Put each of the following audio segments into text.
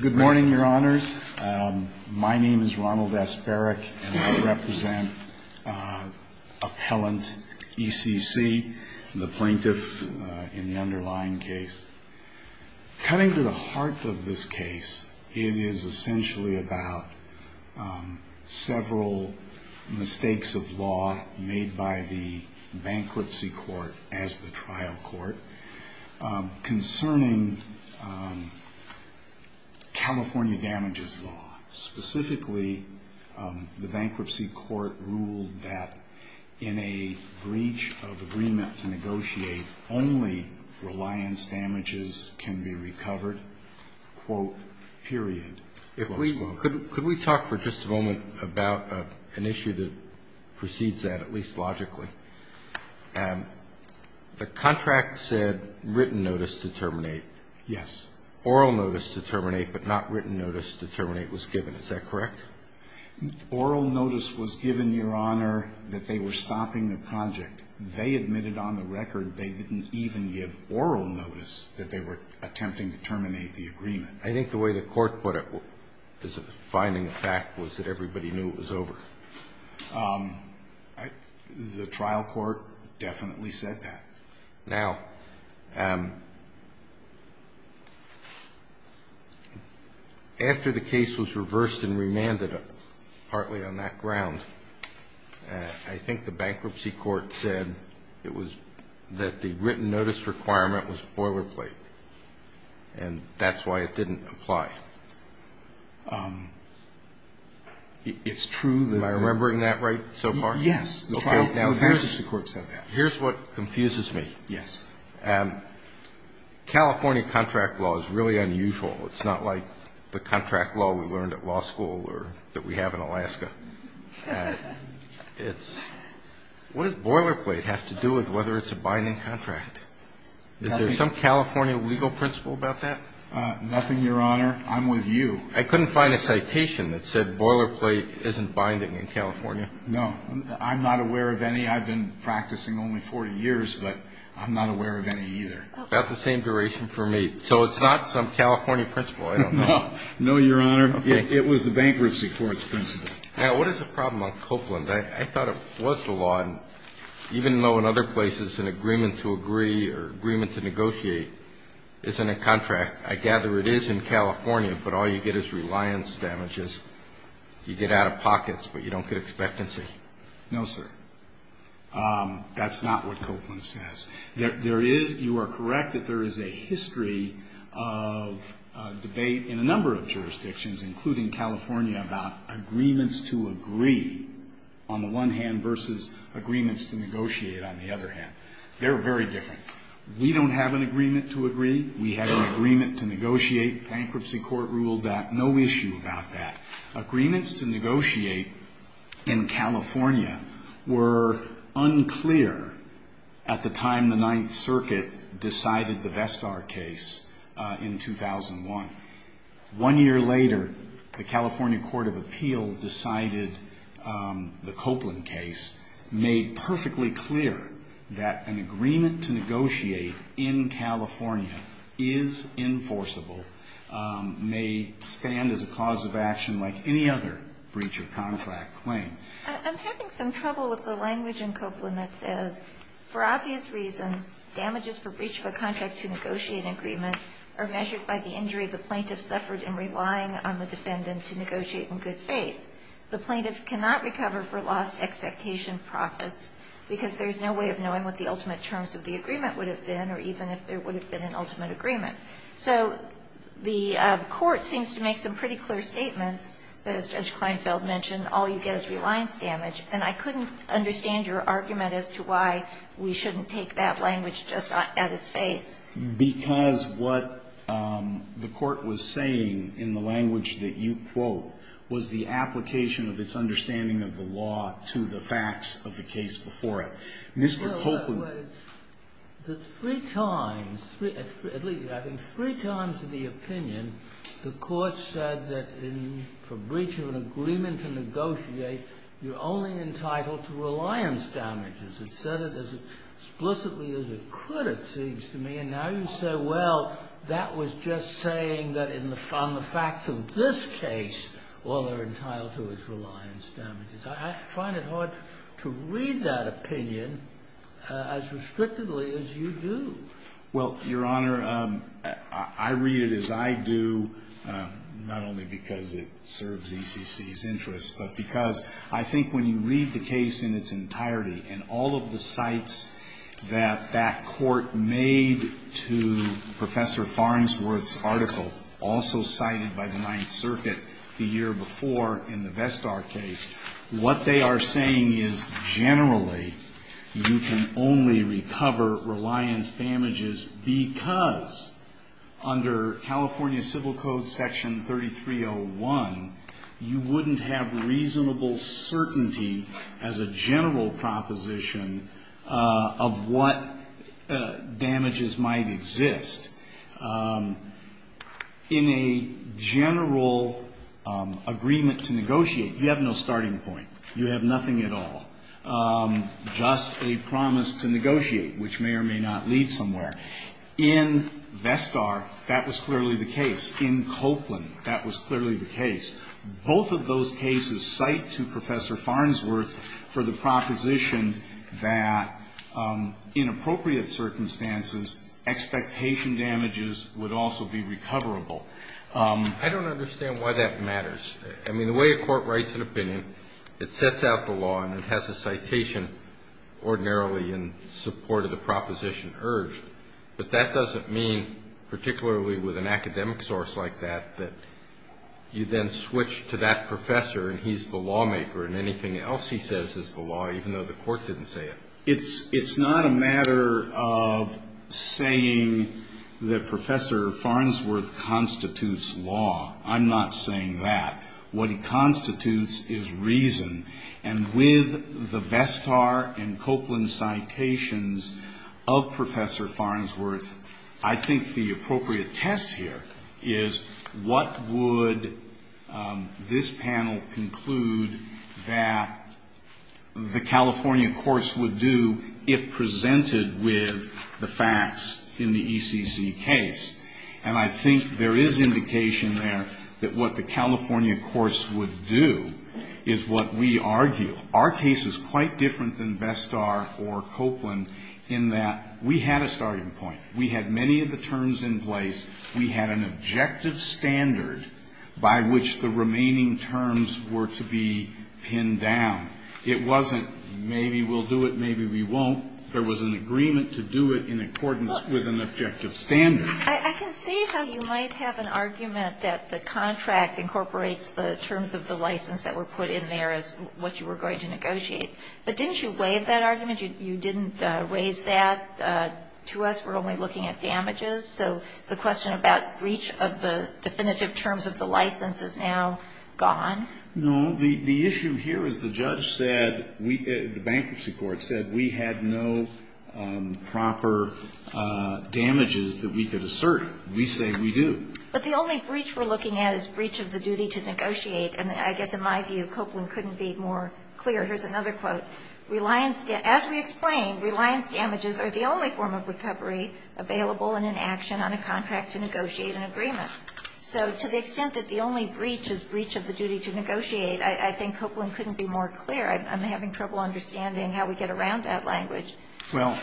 Good morning, Your Honors. My name is Ronald S. Barrick, and I represent Appellant ECC, the plaintiff in the underlying case. Cutting to the heart of this case, it is essentially about several mistakes of law made by the bankruptcy court as the trial court concerning California damages law. Specifically, the bankruptcy court ruled that in a breach of agreement to negotiate, only reliance damages can be recovered, quote, period. Could we talk for just a moment about an issue that proceeds that, at least logically? The contract said written notice to terminate. Yes. Oral notice to terminate, but not written notice to terminate was given. Is that correct? Oral notice was given, Your Honor, that they were stopping the project. They admitted on the record they didn't even give oral notice that they were attempting to terminate the agreement. I think the way the court put it as a defining fact was that everybody knew it was over. The trial court definitely said that. Now, after the case was reversed and remanded, partly on that ground, I think the bankruptcy court said it was that the written notice requirement was boilerplate, and that's why it didn't apply. It's true that the – Am I remembering that right so far? Yes. Okay. Now, here's – The bankruptcy court said that. Here's what confuses me. Yes. California contract law is really unusual. It's not like the contract law we learned at law school or that we have in Alaska. It's – what does boilerplate have to do with whether it's a binding contract? Is there some California legal principle about that? Nothing, Your Honor. I'm with you. I couldn't find a citation that said boilerplate isn't binding in California. No. I'm not aware of any. I've been practicing only 40 years, but I'm not aware of any either. About the same duration for me. So it's not some California principle. I don't know. No, Your Honor. It was the bankruptcy court's principle. Now, what is the problem on Copeland? I thought it was the law, even though in other places an agreement to agree or agreement to negotiate isn't a contract. I gather it is in California, but all you get is reliance damages. You get out-of-pockets, but you don't get expectancy. No, sir. That's not what Copeland says. There is – you are correct that there is a history of debate in a number of jurisdictions, including California, about agreements to agree on the one hand versus agreements to negotiate on the other hand. They're very different. We don't have an agreement to agree. We have an agreement to negotiate. Bankruptcy court ruled that. No issue about that. Agreements to negotiate in California were unclear at the time the Ninth Circuit decided the Vestar case in 2001. One year later, the California Court of Appeal decided the Copeland case, made perfectly clear that an agreement to negotiate in California is enforceable, may stand as a cause of action like any other breach of contract claim. I'm having some trouble with the language in Copeland that says, For obvious reasons, damages for breach of a contract to negotiate an agreement are measured by the injury the plaintiff suffered in relying on the defendant to negotiate in good faith. The plaintiff cannot recover for lost expectation profits because there is no way of knowing what the ultimate terms of the agreement would have been or even if there would have been an ultimate agreement. So the Court seems to make some pretty clear statements that, as Judge Kleinfeld mentioned, all you get is reliance damage. And I couldn't understand your argument as to why we shouldn't take that language just at its face. Because what the Court was saying in the language that you quote was the application of its understanding of the law to the facts of the case before it. Mr. Copeland. At least three times in the opinion, the Court said that for breach of an agreement to negotiate, you're only entitled to reliance damages. It said it as explicitly as it could, it seems to me. And now you say, well, that was just saying that in the facts of this case, all they're entitled to is reliance damages. I find it hard to read that opinion as restrictively as you do. Well, Your Honor, I read it as I do, not only because it serves ECC's interests, but because I think when you read the case in its entirety and all of the cites that that Court made to Professor Farnsworth's article, also cited by the Ninth Circuit the year before in the Vestar case, what they are saying is generally you can only recover reliance damages because under California Civil Code Section 3301, you wouldn't have reasonable certainty as a general proposition of what damages might exist. In a general agreement to negotiate, you have no starting point. You have nothing at all. Just a promise to negotiate, which may or may not lead somewhere. In Vestar, that was clearly the case. Both of those cases cite to Professor Farnsworth for the proposition that in appropriate circumstances, expectation damages would also be recoverable. I don't understand why that matters. I mean, the way a court writes an opinion, it sets out the law and it has a citation ordinarily in support of the proposition urged. But that doesn't mean, particularly with an academic source like that, that you then switch to that professor and he's the lawmaker and anything else he says is the law, even though the court didn't say it. It's not a matter of saying that Professor Farnsworth constitutes law. I'm not saying that. What he constitutes is reason. And with the Vestar and Copeland citations of Professor Farnsworth, I think the appropriate test here is what would this panel conclude that the California course would do if presented with the facts in the ECC case? And I think there is indication there that what the California course would do is what we argue. Our case is quite different than Vestar or Copeland in that we had a starting point. We had many of the terms in place. We had an objective standard by which the remaining terms were to be pinned down. It wasn't maybe we'll do it, maybe we won't. There was an agreement to do it in accordance with an objective standard. I can see how you might have an argument that the contract incorporates the terms of the license that were put in there as what you were going to negotiate. But didn't you waive that argument? You didn't raise that to us. We're only looking at damages. So the question about breach of the definitive terms of the license is now gone? No. The issue here is the judge said, the bankruptcy court said we had no proper damages that we could assert. We say we do. But the only breach we're looking at is breach of the duty to negotiate. And I guess in my view, Copeland couldn't be more clear. Here's another quote. As we explained, reliance damages are the only form of recovery available and in action on a contract to negotiate an agreement. So to the extent that the only breach is breach of the duty to negotiate, I think Copeland couldn't be more clear. I'm having trouble understanding how we get around that language. Well,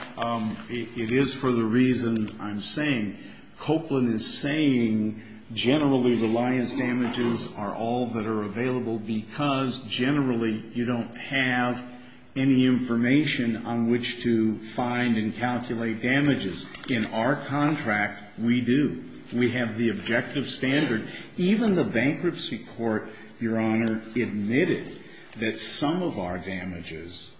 it is for the reason I'm saying. Copeland is saying generally reliance damages are all that are available because generally you don't have any information on which to find and calculate damages. In our contract, we do. We have the objective standard. Even the bankruptcy court, Your Honor, admitted that some of our damages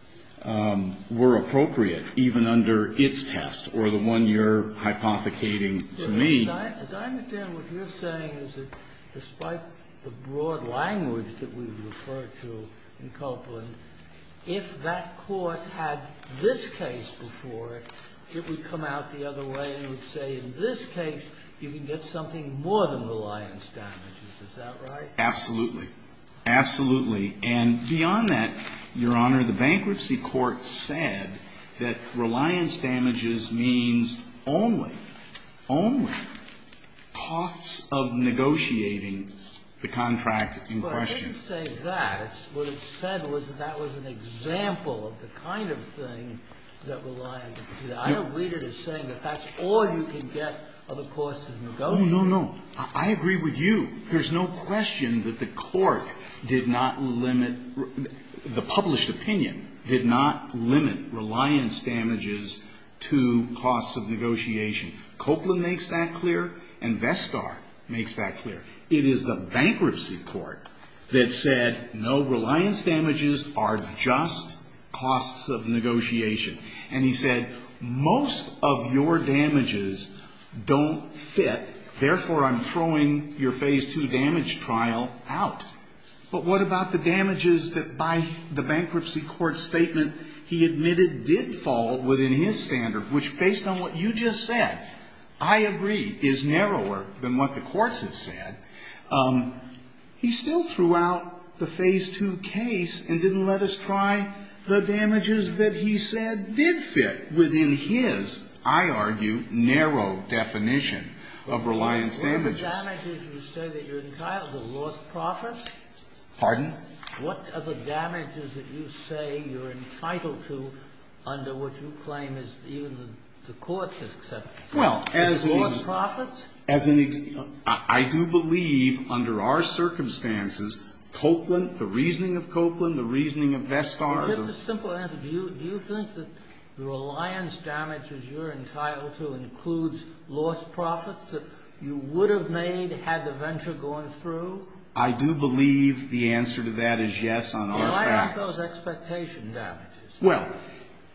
were appropriate even under its test or the one you're hypothecating to me. As I understand what you're saying is that despite the broad language that we've referred to in Copeland, if that court had this case before it, it would come out the other way and would say in this case you can get something more than reliance damages. Is that right? Absolutely. Absolutely. And beyond that, Your Honor, the bankruptcy court said that reliance damages means only, only costs of negotiating the contract in question. Well, I didn't say that. What it said was that that was an example of the kind of thing that reliance damages. I don't read it as saying that that's all you can get of the cost of negotiating. Oh, no, no. I agree with you. There's no question that the court did not limit, the published opinion did not limit reliance damages to costs of negotiation. Copeland makes that clear and Vestar makes that clear. It is the bankruptcy court that said no, reliance damages are just costs of negotiation. And he said most of your damages don't fit. Therefore, I'm throwing your Phase II damage trial out. But what about the damages that by the bankruptcy court's statement he admitted did fall within his standard, which based on what you just said, I agree, is narrower than what the courts have said. He still threw out the Phase II case and didn't let us try the damages that he said did fit within his, I argue, narrow definition of reliance damages. But what are the damages you say that you're entitled to? Lost profits? Pardon? What are the damages that you say you're entitled to under what you claim is even the courts have said? Well, as an example. Lost profits? As an example. I do believe under our circumstances Copeland, the reasoning of Copeland, the reasoning of Vestar. Just a simple answer. Do you think that the reliance damages you're entitled to includes lost profits that you would have made had the venture gone through? I do believe the answer to that is yes on all facts. Why aren't those expectation damages? Well,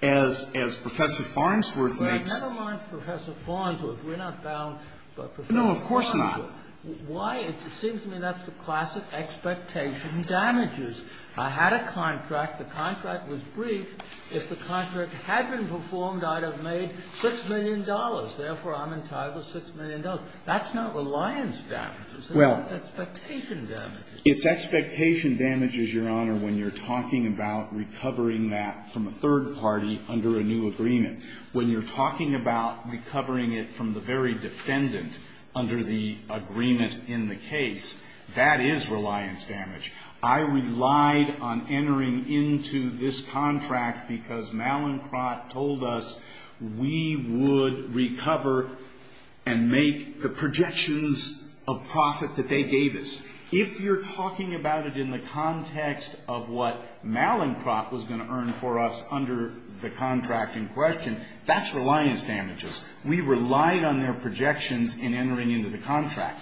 as Professor Farnsworth makes... Never mind Professor Farnsworth. We're not bound by Professor Farnsworth. No, of course not. Why? It seems to me that's the classic expectation damages. I had a contract. The contract was brief. If the contract had been performed, I'd have made $6 million. Therefore, I'm entitled to $6 million. That's not reliance damages. It's expectation damages. It's expectation damages, Your Honor, when you're talking about recovering that from a third party under a new agreement. When you're talking about recovering it from the very defendant under the agreement in the case, that is reliance damage. I relied on entering into this contract because Malincroft told us we would recover and make the projections of profit that they gave us. If you're talking about it in the context of what Malincroft was going to earn for us under the contract in question, that's reliance damages. We relied on their projections in entering into the contract.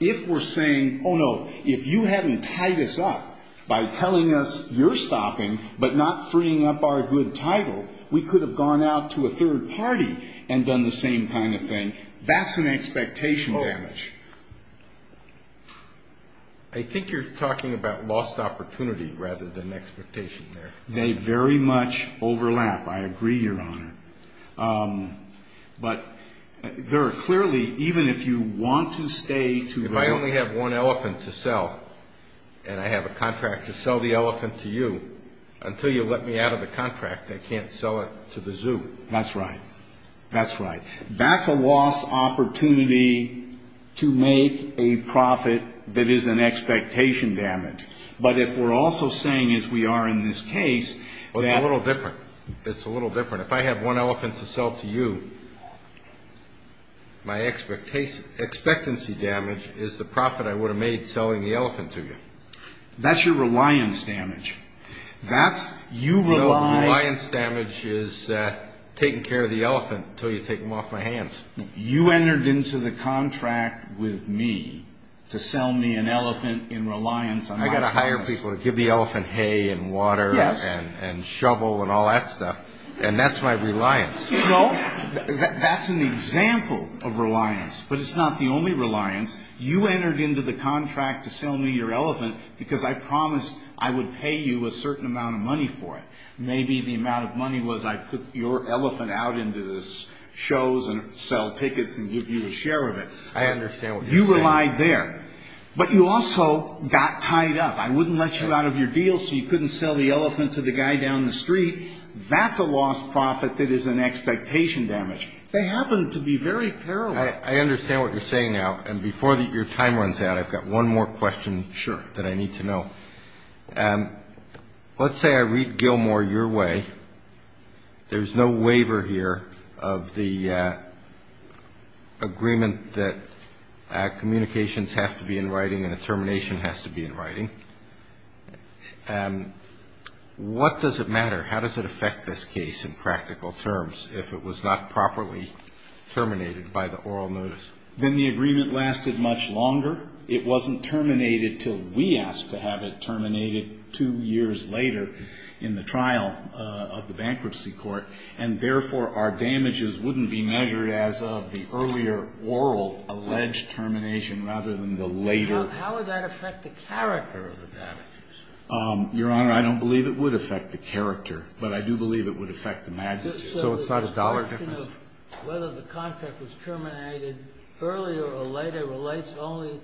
If we're saying, oh, no, if you hadn't tied us up by telling us you're stopping but not freeing up our good title, we could have gone out to a third party and done the same kind of thing. That's an expectation damage. I think you're talking about lost opportunity rather than expectation there. They very much overlap. I agree, Your Honor. But there are clearly, even if you want to stay to the... If I only have one elephant to sell and I have a contract to sell the elephant to you, until you let me out of the contract, I can't sell it to the zoo. That's right. That's right. That's a lost opportunity to make a profit that is an expectation damage. But if we're also saying, as we are in this case... Well, it's a little different. It's a little different. If I have one elephant to sell to you, my expectancy damage is the profit I would have made selling the elephant to you. That's your reliance damage. That's you relying... Reliance damage is taking care of the elephant until you take him off my hands. You entered into the contract with me to sell me an elephant in reliance on my promise. I've got to hire people to give the elephant hay and water and shovel and all that stuff. And that's my reliance. No, that's an example of reliance, but it's not the only reliance. You entered into the contract to sell me your elephant because I promised I would pay you a certain amount of money for it. Maybe the amount of money was I'd put your elephant out into the shows and sell tickets and give you a share of it. I understand what you're saying. You relied there. But you also got tied up. I wouldn't let you out of your deal so you couldn't sell the elephant to the guy down the street. That's a lost profit that is an expectation damage. They happen to be very parallel. I understand what you're saying now. And before your time runs out, I've got one more question that I need to know. Sure. Let's say I read Gilmore your way. There's no waiver here of the agreement that communications have to be in writing and a termination has to be in writing. What does it matter? How does it affect this case in practical terms if it was not properly terminated by the oral notice? Then the agreement lasted much longer. It wasn't terminated until we asked to have it terminated two years later in the trial of the bankruptcy court, and therefore our damages wouldn't be measured as of the earlier oral alleged termination rather than the later. How would that affect the character of the damages? Your Honor, I don't believe it would affect the character, but I do believe it would affect the magnitude. So it's not a dollar difference? So the question of whether the contract was terminated earlier or later relates only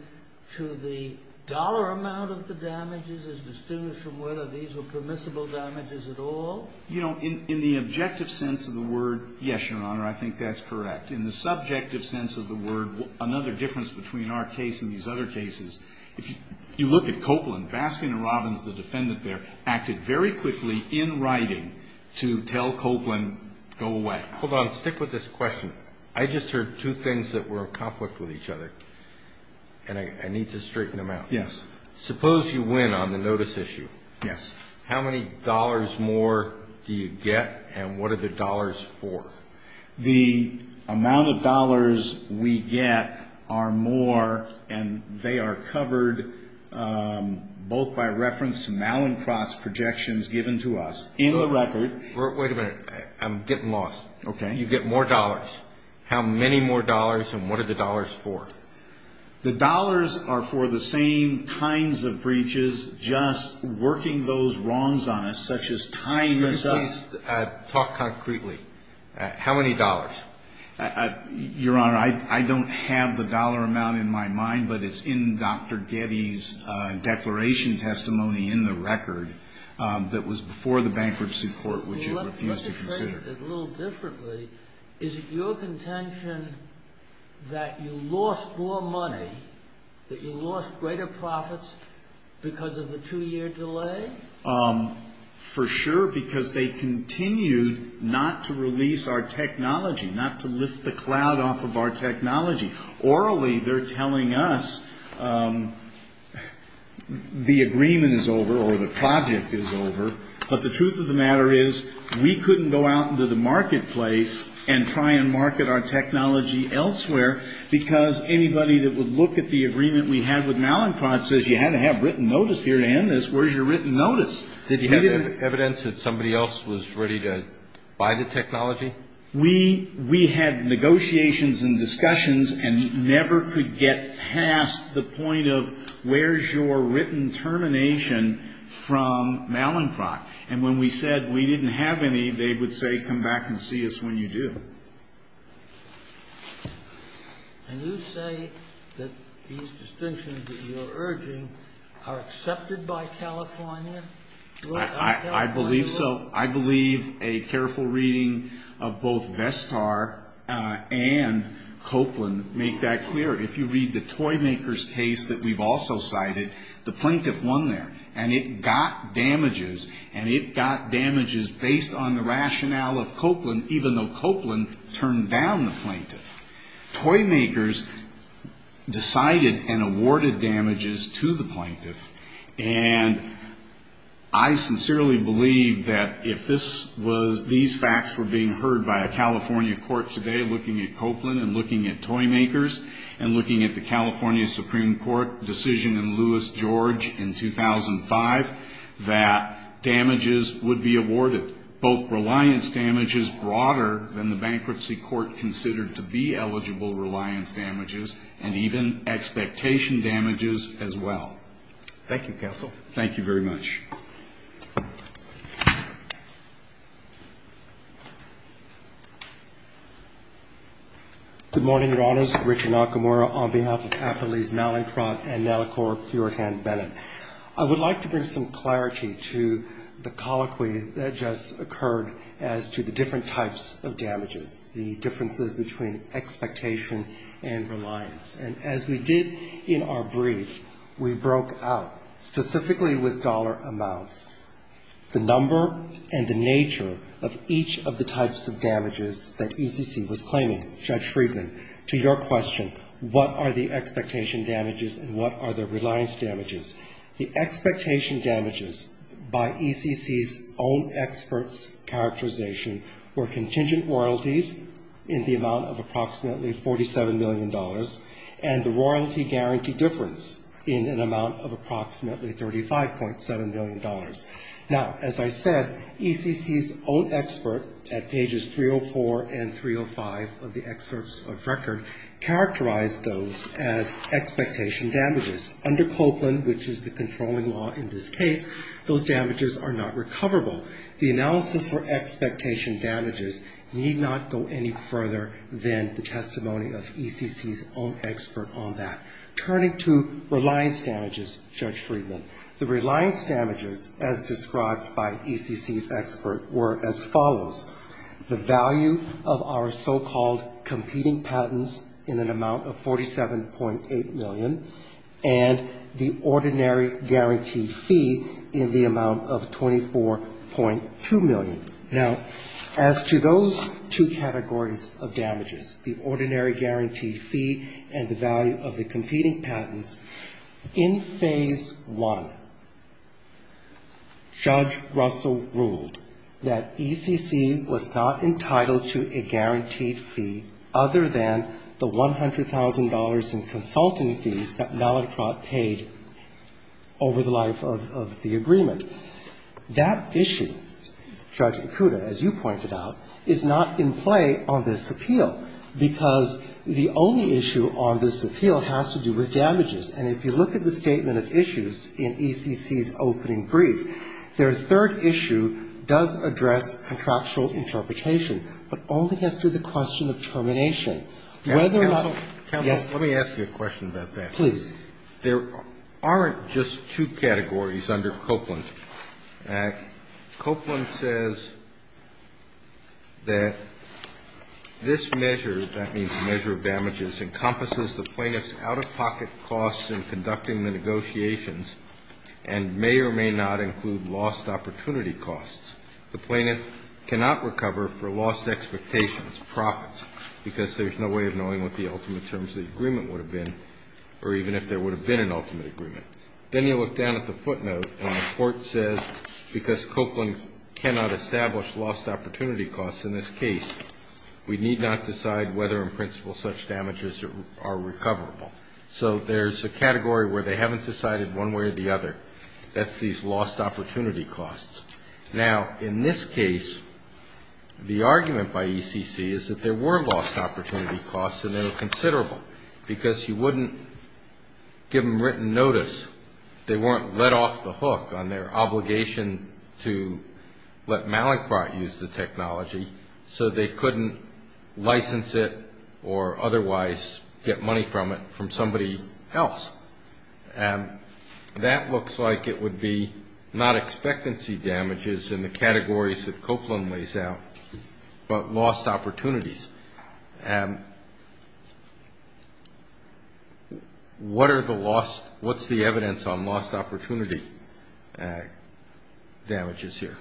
to the dollar amount of the damages as distinguished from whether these were permissible damages at all? You know, in the objective sense of the word, yes, Your Honor, I think that's correct. In the subjective sense of the word, another difference between our case and these other cases, if you look at Copeland, Baskin and Robbins, the defendant there, acted very quickly in writing to tell Copeland, go away. Hold on. Stick with this question. I just heard two things that were in conflict with each other, and I need to straighten them out. Yes. Suppose you win on the notice issue. Yes. How many dollars more do you get, and what are the dollars for? The amount of dollars we get are more, and they are covered both by reference to Malincroft's projections given to us. In the record. Wait a minute. I'm getting lost. Okay. You get more dollars. How many more dollars, and what are the dollars for? The dollars are for the same kinds of breaches, just working those wrongs on us, such as tying this up. Just talk concretely. How many dollars? Your Honor, I don't have the dollar amount in my mind, but it's in Dr. Getty's declaration testimony in the record that was before the bankruptcy court, which it refused to consider. Well, let's look at it a little differently. Is it your contention that you lost more money, that you lost greater profits because of the two-year delay? For sure, because they continued not to release our technology, not to lift the cloud off of our technology. Orally, they're telling us the agreement is over or the project is over, but the truth of the matter is we couldn't go out into the marketplace and try and market our technology elsewhere, because anybody that would look at the agreement we had with Malincroft says, you had to have written notice here to end this. Where's your written notice? Did you have evidence that somebody else was ready to buy the technology? We had negotiations and discussions and never could get past the point of, where's your written termination from Malincroft? And when we said we didn't have any, they would say, come back and see us when you do. And you say that these distinctions that you're urging are accepted by California? I believe so. I believe a careful reading of both Vestar and Copeland make that clear. If you read the Toymakers case that we've also cited, the plaintiff won there, and it got damages, and it got damages based on the rationale of Copeland, even though Copeland turned down the plaintiff. Toymakers decided and awarded damages to the plaintiff, and I sincerely believe that if these facts were being heard by a California court today, looking at Copeland and looking at Toymakers and looking at the California Supreme Court decision in Lewis George in 2005, that damages would be awarded, both reliance damages broader than the bankruptcy court considered to be eligible reliance damages, and even expectation damages as well. Thank you, Counsel. Thank you very much. Good morning, Your Honors. Richard Nakamura on behalf of Appellees Malincroft and Nalicor Puertan-Bennett. I would like to bring some clarity to the colloquy that just occurred as to the different types of damages, the differences between expectation and reliance. And as we did in our brief, we broke out, specifically with dollar amounts, the number and the nature of each of the types of damages that ECC was claiming, Judge Friedman, to your question, what are the expectation damages and what are the reliance damages. The expectation damages, by ECC's own experts' characterization, were contingent royalties in the amount of approximately $47 million and the royalty guarantee difference in an amount of approximately $35.7 million. Now, as I said, ECC's own expert at pages 304 and 305 of the excerpts of record characterized those as expectation damages. Under Copeland, which is the controlling law in this case, those damages are not recoverable. The analysis for expectation damages need not go any further than the testimony of ECC's own expert on that. Turning to reliance damages, Judge Friedman, the reliance damages, as described by ECC's expert, were as follows. The value of our so-called competing patents in an amount of $47.8 million and the ordinary guaranteed fee in the amount of $24.2 million. Now, as to those two categories of damages, the ordinary guaranteed fee and the value of the competing patents, in Phase I, Judge Russell ruled that ECC was not entitled to a guaranteed fee other than the $100,000 in consultant fees that Mallicrott paid over the life of the agreement. That issue, Judge Ikuda, as you pointed out, is not in play on this appeal, because the only issue on this appeal has to do with damages. And if you look at the statement of issues in ECC's opening brief, their third issue does address contractual interpretation, but only has to do with the question of termination. Whether or not, yes. Kennedy. Counsel, let me ask you a question about that. Please. There aren't just two categories under Copeland. Copeland says that this measure, that means the measure of damages, encompasses the plaintiff's out-of-pocket costs in conducting the negotiations and may or may not include lost opportunity costs. The plaintiff cannot recover for lost expectations, profits, because there's no way of knowing what the ultimate terms of the agreement would have been or even if there would have been an ultimate agreement. Then you look down at the footnote and the court says, because Copeland cannot establish lost opportunity costs in this case, we need not decide whether in principle such damages are recoverable. So there's a category where they haven't decided one way or the other. That's these lost opportunity costs. Now, in this case, the argument by ECC is that there were lost opportunity costs and they were considerable, because you wouldn't give them written notice. They weren't let off the hook on their obligation to let Malacroft use the technology, so they couldn't license it or otherwise get money from it from somebody else. And that looks like it would be not expectancy damages in the categories that Copeland lays out, but lost opportunities. What are the lost, what's the evidence on lost opportunity damages here?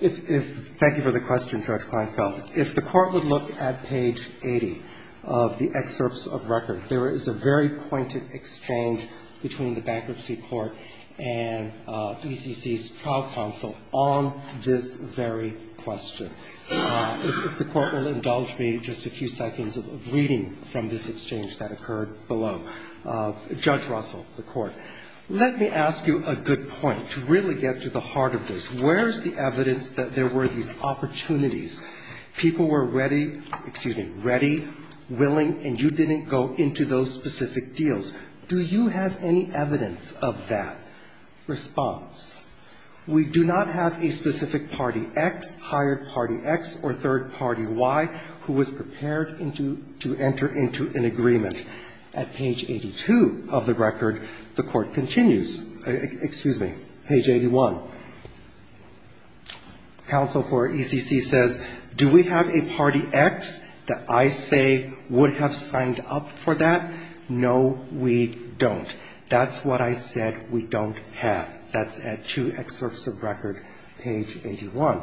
Thank you for the question, Judge Kleinfeld. If the Court would look at page 80 of the excerpts of record, there is a very pointed exchange between the Bankruptcy Court and ECC's trial counsel on this very question. If the Court will indulge me just a few seconds of reading from this exchange that occurred below. Judge Russell, the Court. Let me ask you a good point to really get to the heart of this. Where is the evidence that there were these opportunities? People were ready, excuse me, ready, willing, and you didn't go into those specific Do you have any evidence of that response? We do not have a specific party X, hired party X, or third party Y who was prepared to enter into an agreement. At page 82 of the record, the Court continues, excuse me, page 81. Counsel for ECC says, do we have a party X that I say would have signed up for that? No, we don't. That's what I said we don't have. That's at two excerpts of record, page 81.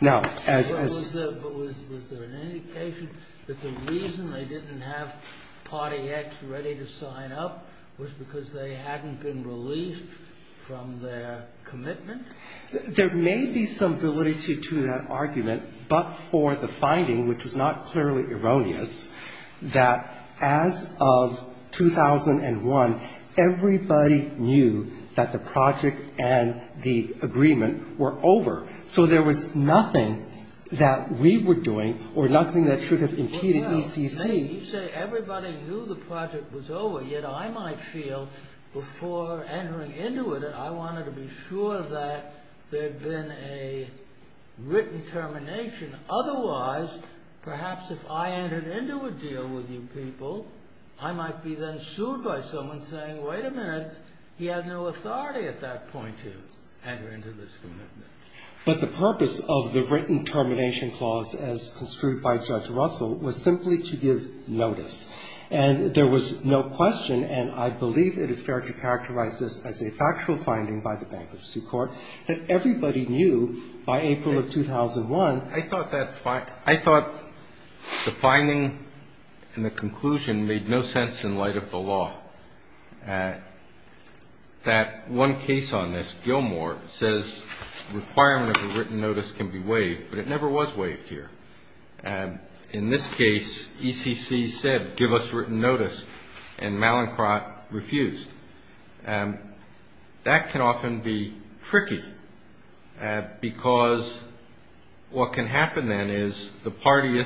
Now, as as But was there an indication that the reason they didn't have party X ready to sign up was because they hadn't been released from their commitment? There may be some validity to that argument, but for the finding, which was not clearly erroneous, that as of 2001, everybody knew that the project and the agreement were over. So there was nothing that we were doing or nothing that should have impeded ECC. You say everybody knew the project was over, yet I might feel before entering into it that I wanted to be sure that there had been a written termination. Otherwise, perhaps if I entered into a deal with you people, I might be then sued by someone saying, wait a minute, he had no authority at that point to enter into this commitment. But the purpose of the written termination clause as construed by Judge Russell was simply to give notice. And there was no question, and I believe it is fair to characterize this as a factual finding by the Bankruptcy Court, that everybody knew by April of 2001 I thought the finding and the conclusion made no sense in light of the law. That one case on this, Gilmore, says the requirement of a written notice can be waived, but it never was waived here. In this case, ECC said, give us written notice, and Mallinckrodt refused. That can often be tricky, because what can happen then is the party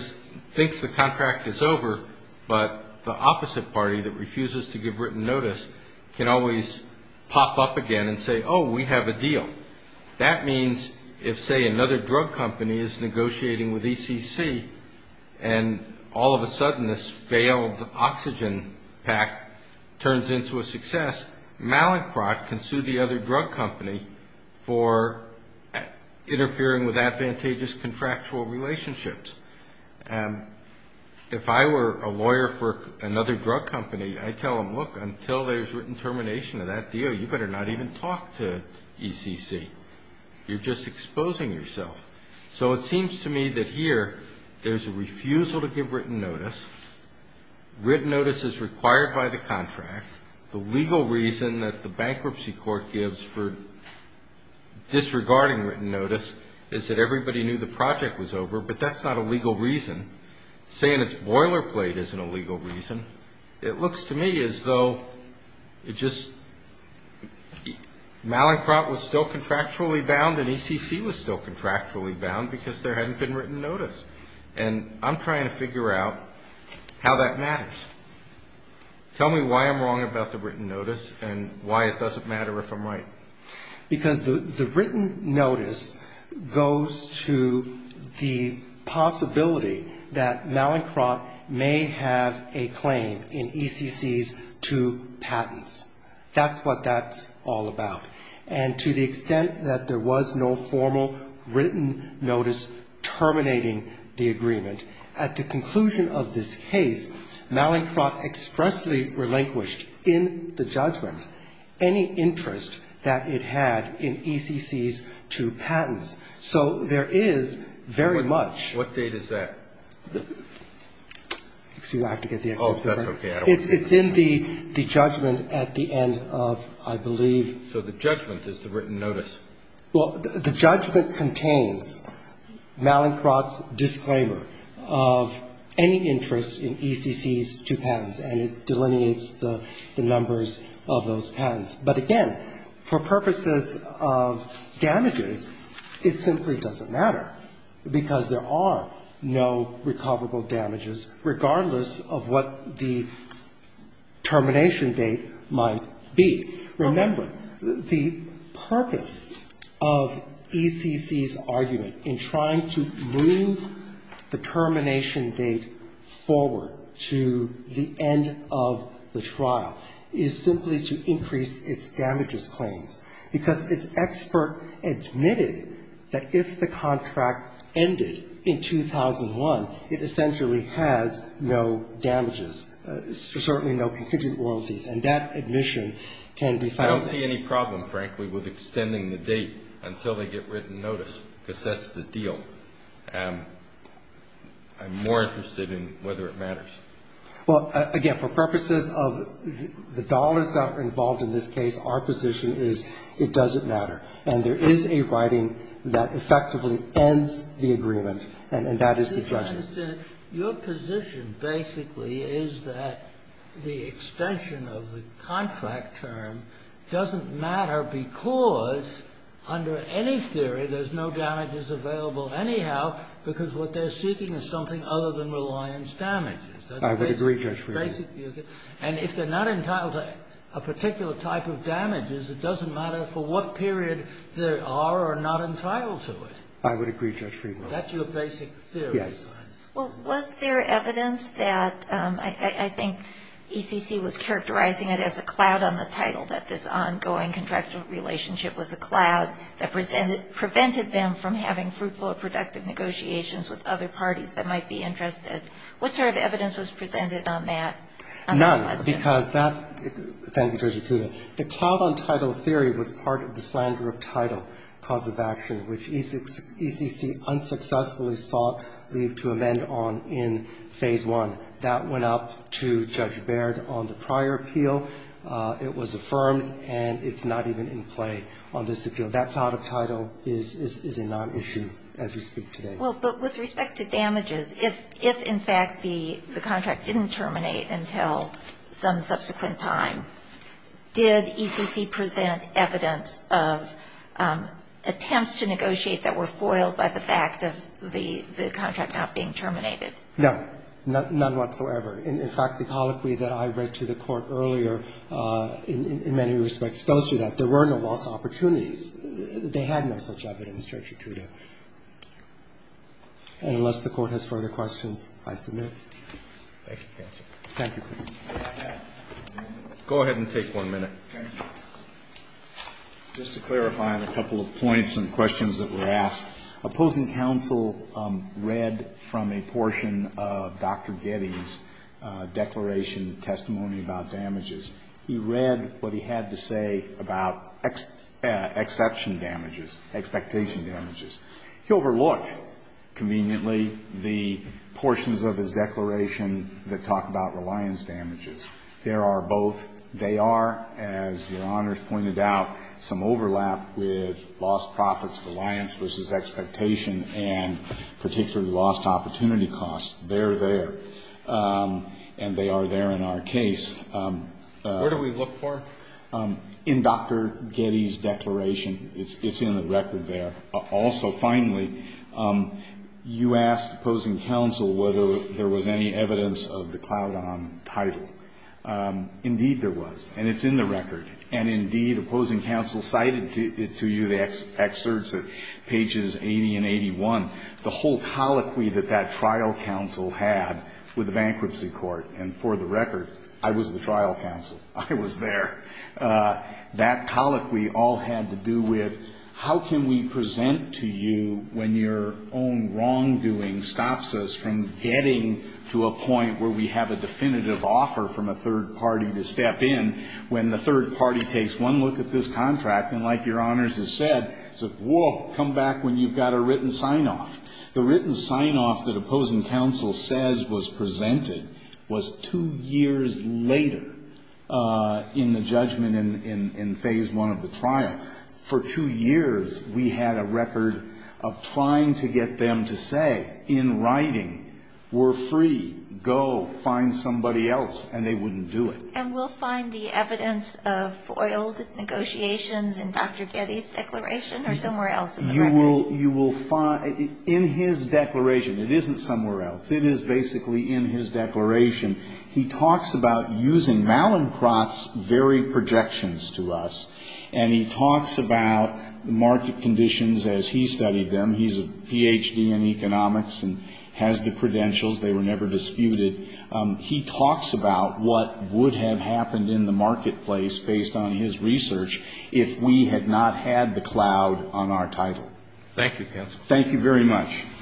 thinks the contract is over, but the opposite party that refuses to give written notice can always pop up again and say, oh, we have a deal. That means if, say, another drug company is negotiating with ECC, and all of a sudden this failed oxygen pack turns into a success, Mallinckrodt can sue the other drug company for interfering with advantageous contractual relationships. If I were a lawyer for another drug company, I'd tell them, look, until there's written termination of that deal, you better not even talk to ECC. You're just exposing yourself. So it seems to me that here there's a refusal to give written notice. Written notice is required by the contract. The legal reason that the bankruptcy court gives for disregarding written notice is that everybody knew the project was over, but that's not a legal reason. Saying it's boilerplate isn't a legal reason. It looks to me as though it just, Mallinckrodt was still contractually bound and ECC was still contractually bound because there hadn't been written notice. And I'm trying to figure out how that matters. Tell me why I'm wrong about the written notice and why it doesn't matter if I'm right. Because the written notice goes to the possibility that Mallinckrodt may have a claim in ECC's two patents. That's what that's all about. And to the extent that there was no formal written notice terminating the agreement, at the conclusion of this case, Mallinckrodt expressly relinquished in the judgment any interest that it had in ECC's two patents. So there is very much. What date is that? It's in the judgment at the end of, I believe. So the judgment is the written notice. Well, the judgment contains Mallinckrodt's disclaimer of any interest in ECC's two patents, and it delineates the numbers of those patents. But again, for purposes of damages, it simply doesn't matter, because there are no recoverable damages, regardless of what the termination date might be. Remember, the purpose of ECC's argument in trying to move the termination date forward to the end of the trial is simply to increase its damages claims, because its expert admitted that if the contract ended in 2001, it essentially has no damages, certainly no contingent royalties, and that admission can be found. I don't see any problem, frankly, with extending the date until they get written notice, because that's the deal. I'm more interested in whether it matters. Well, again, for purposes of the dollars that are involved in this case, our position is it doesn't matter. And there is a writing that effectively ends the agreement, and that is the judgment. Your position basically is that the extension of the contract term doesn't matter because, under any theory, there's no damages available anyhow, because what they're seeking is something other than reliance damages. I would agree, Judge Friedman. And if they're not entitled to a particular type of damages, it doesn't matter for what period they are or are not entitled to it. I would agree, Judge Friedman. That's your basic theory. Yes. Well, was there evidence that I think ECC was characterizing it as a cloud on the title that this ongoing contractual relationship was a cloud that prevented them from having fruitful or productive negotiations with other parties that might be interested? What sort of evidence was presented on that? None, because that — thank you, Judge Akuda. The cloud on title theory was part of the slander of title cause of action, which ECC unsuccessfully sought leave to amend on in Phase I. That went up to Judge Baird on the prior appeal. It was affirmed, and it's not even in play on this appeal. That cloud of title is a nonissue as we speak today. Well, but with respect to damages, if in fact the contract didn't terminate until some subsequent time, did ECC present evidence of attempts to negotiate that were foiled by the fact of the contract not being terminated? No. None whatsoever. In fact, the colloquy that I read to the Court earlier in many respects tells you that there were no lost opportunities. They had no such evidence, Judge Akuda. And unless the Court has further questions, I submit. Thank you, counsel. Thank you. Go ahead and take one minute. Thank you. Just to clarify on a couple of points and questions that were asked, opposing counsel read from a portion of Dr. Getty's declaration testimony about damages. He read what he had to say about exception damages, expectation damages. He overlooked, conveniently, the portions of his declaration that talk about reliance damages. There are both. They are, as Your Honors pointed out, some overlap with lost profits, reliance versus expectation, and particularly lost opportunity costs. They're there. And they are there in our case. Where do we look for them? In Dr. Getty's declaration. It's in the record there. Also, finally, you asked opposing counsel whether there was any evidence of the Cloudon title. Indeed, there was. And it's in the record. And indeed, opposing counsel cited to you the excerpts at pages 80 and 81 the whole colloquy that that trial counsel had with the bankruptcy court. And for the record, I was the trial counsel. I was there. That colloquy all had to do with how can we present to you when your own wrongdoing stops us from getting to a point where we have a definitive offer from a third party to step in when the third party takes one look at this contract and, like Your Honors has said, says, whoa, come back when you've got a written sign-off. The written sign-off that opposing counsel says was presented was two years later in the judgment in phase one of the trial. For two years, we had a record of trying to get them to say in writing, we're free, go find somebody else, and they wouldn't do it. And we'll find the evidence of foiled negotiations in Dr. Getty's declaration or somewhere else in the record? You will find in his declaration. It isn't somewhere else. It is basically in his declaration. He talks about using Malincroft's very projections to us. And he talks about the market conditions as he studied them. He's a Ph.D. in economics and has the credentials. They were never disputed. He talks about what would have happened in the marketplace based on his research if we had not had the cloud on our title. Thank you, counsel. Thank you very much. Thank you.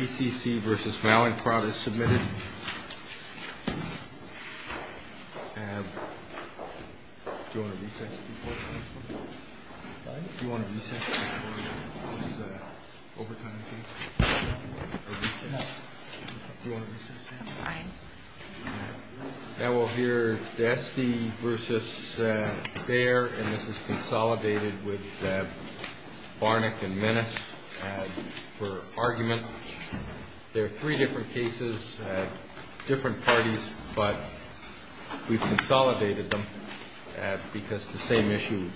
ECC versus Malincroft is submitted. Do you want to recess before the case? Pardon? Do you want to recess before this overtime case? No. Do you want to recess, Sam? I. Now we'll hear Desty versus Bair, and this is consolidated with Barnack and Menace for argument. There are three different cases, different parties, but we've consolidated them because the same issue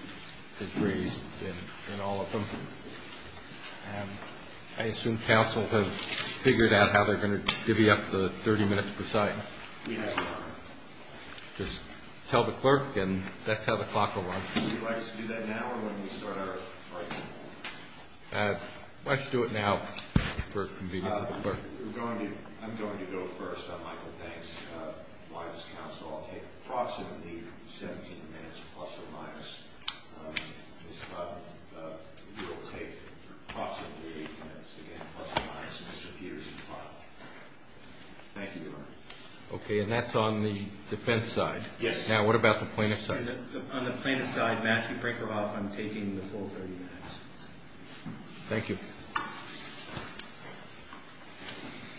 is raised in all of them. I assume counsel has figured out how they're going to divvy up the 30 minutes per side. We have not. Just tell the clerk, and that's how the clock will run. Would you like us to do that now or when we start our argument? Why don't you do it now for convenience of the clerk. I'm going to go first on Michael Banks. Why does counsel all take approximately 17 minutes plus or minus? Ms. Butler, you'll take approximately eight minutes again plus or minus Mr. Peterson's file. Thank you, Your Honor. Okay, and that's on the defense side. Yes. Now what about the plaintiff's side? On the plaintiff's side, Matthew, break her off. I'm taking the full 30 minutes. Thank you.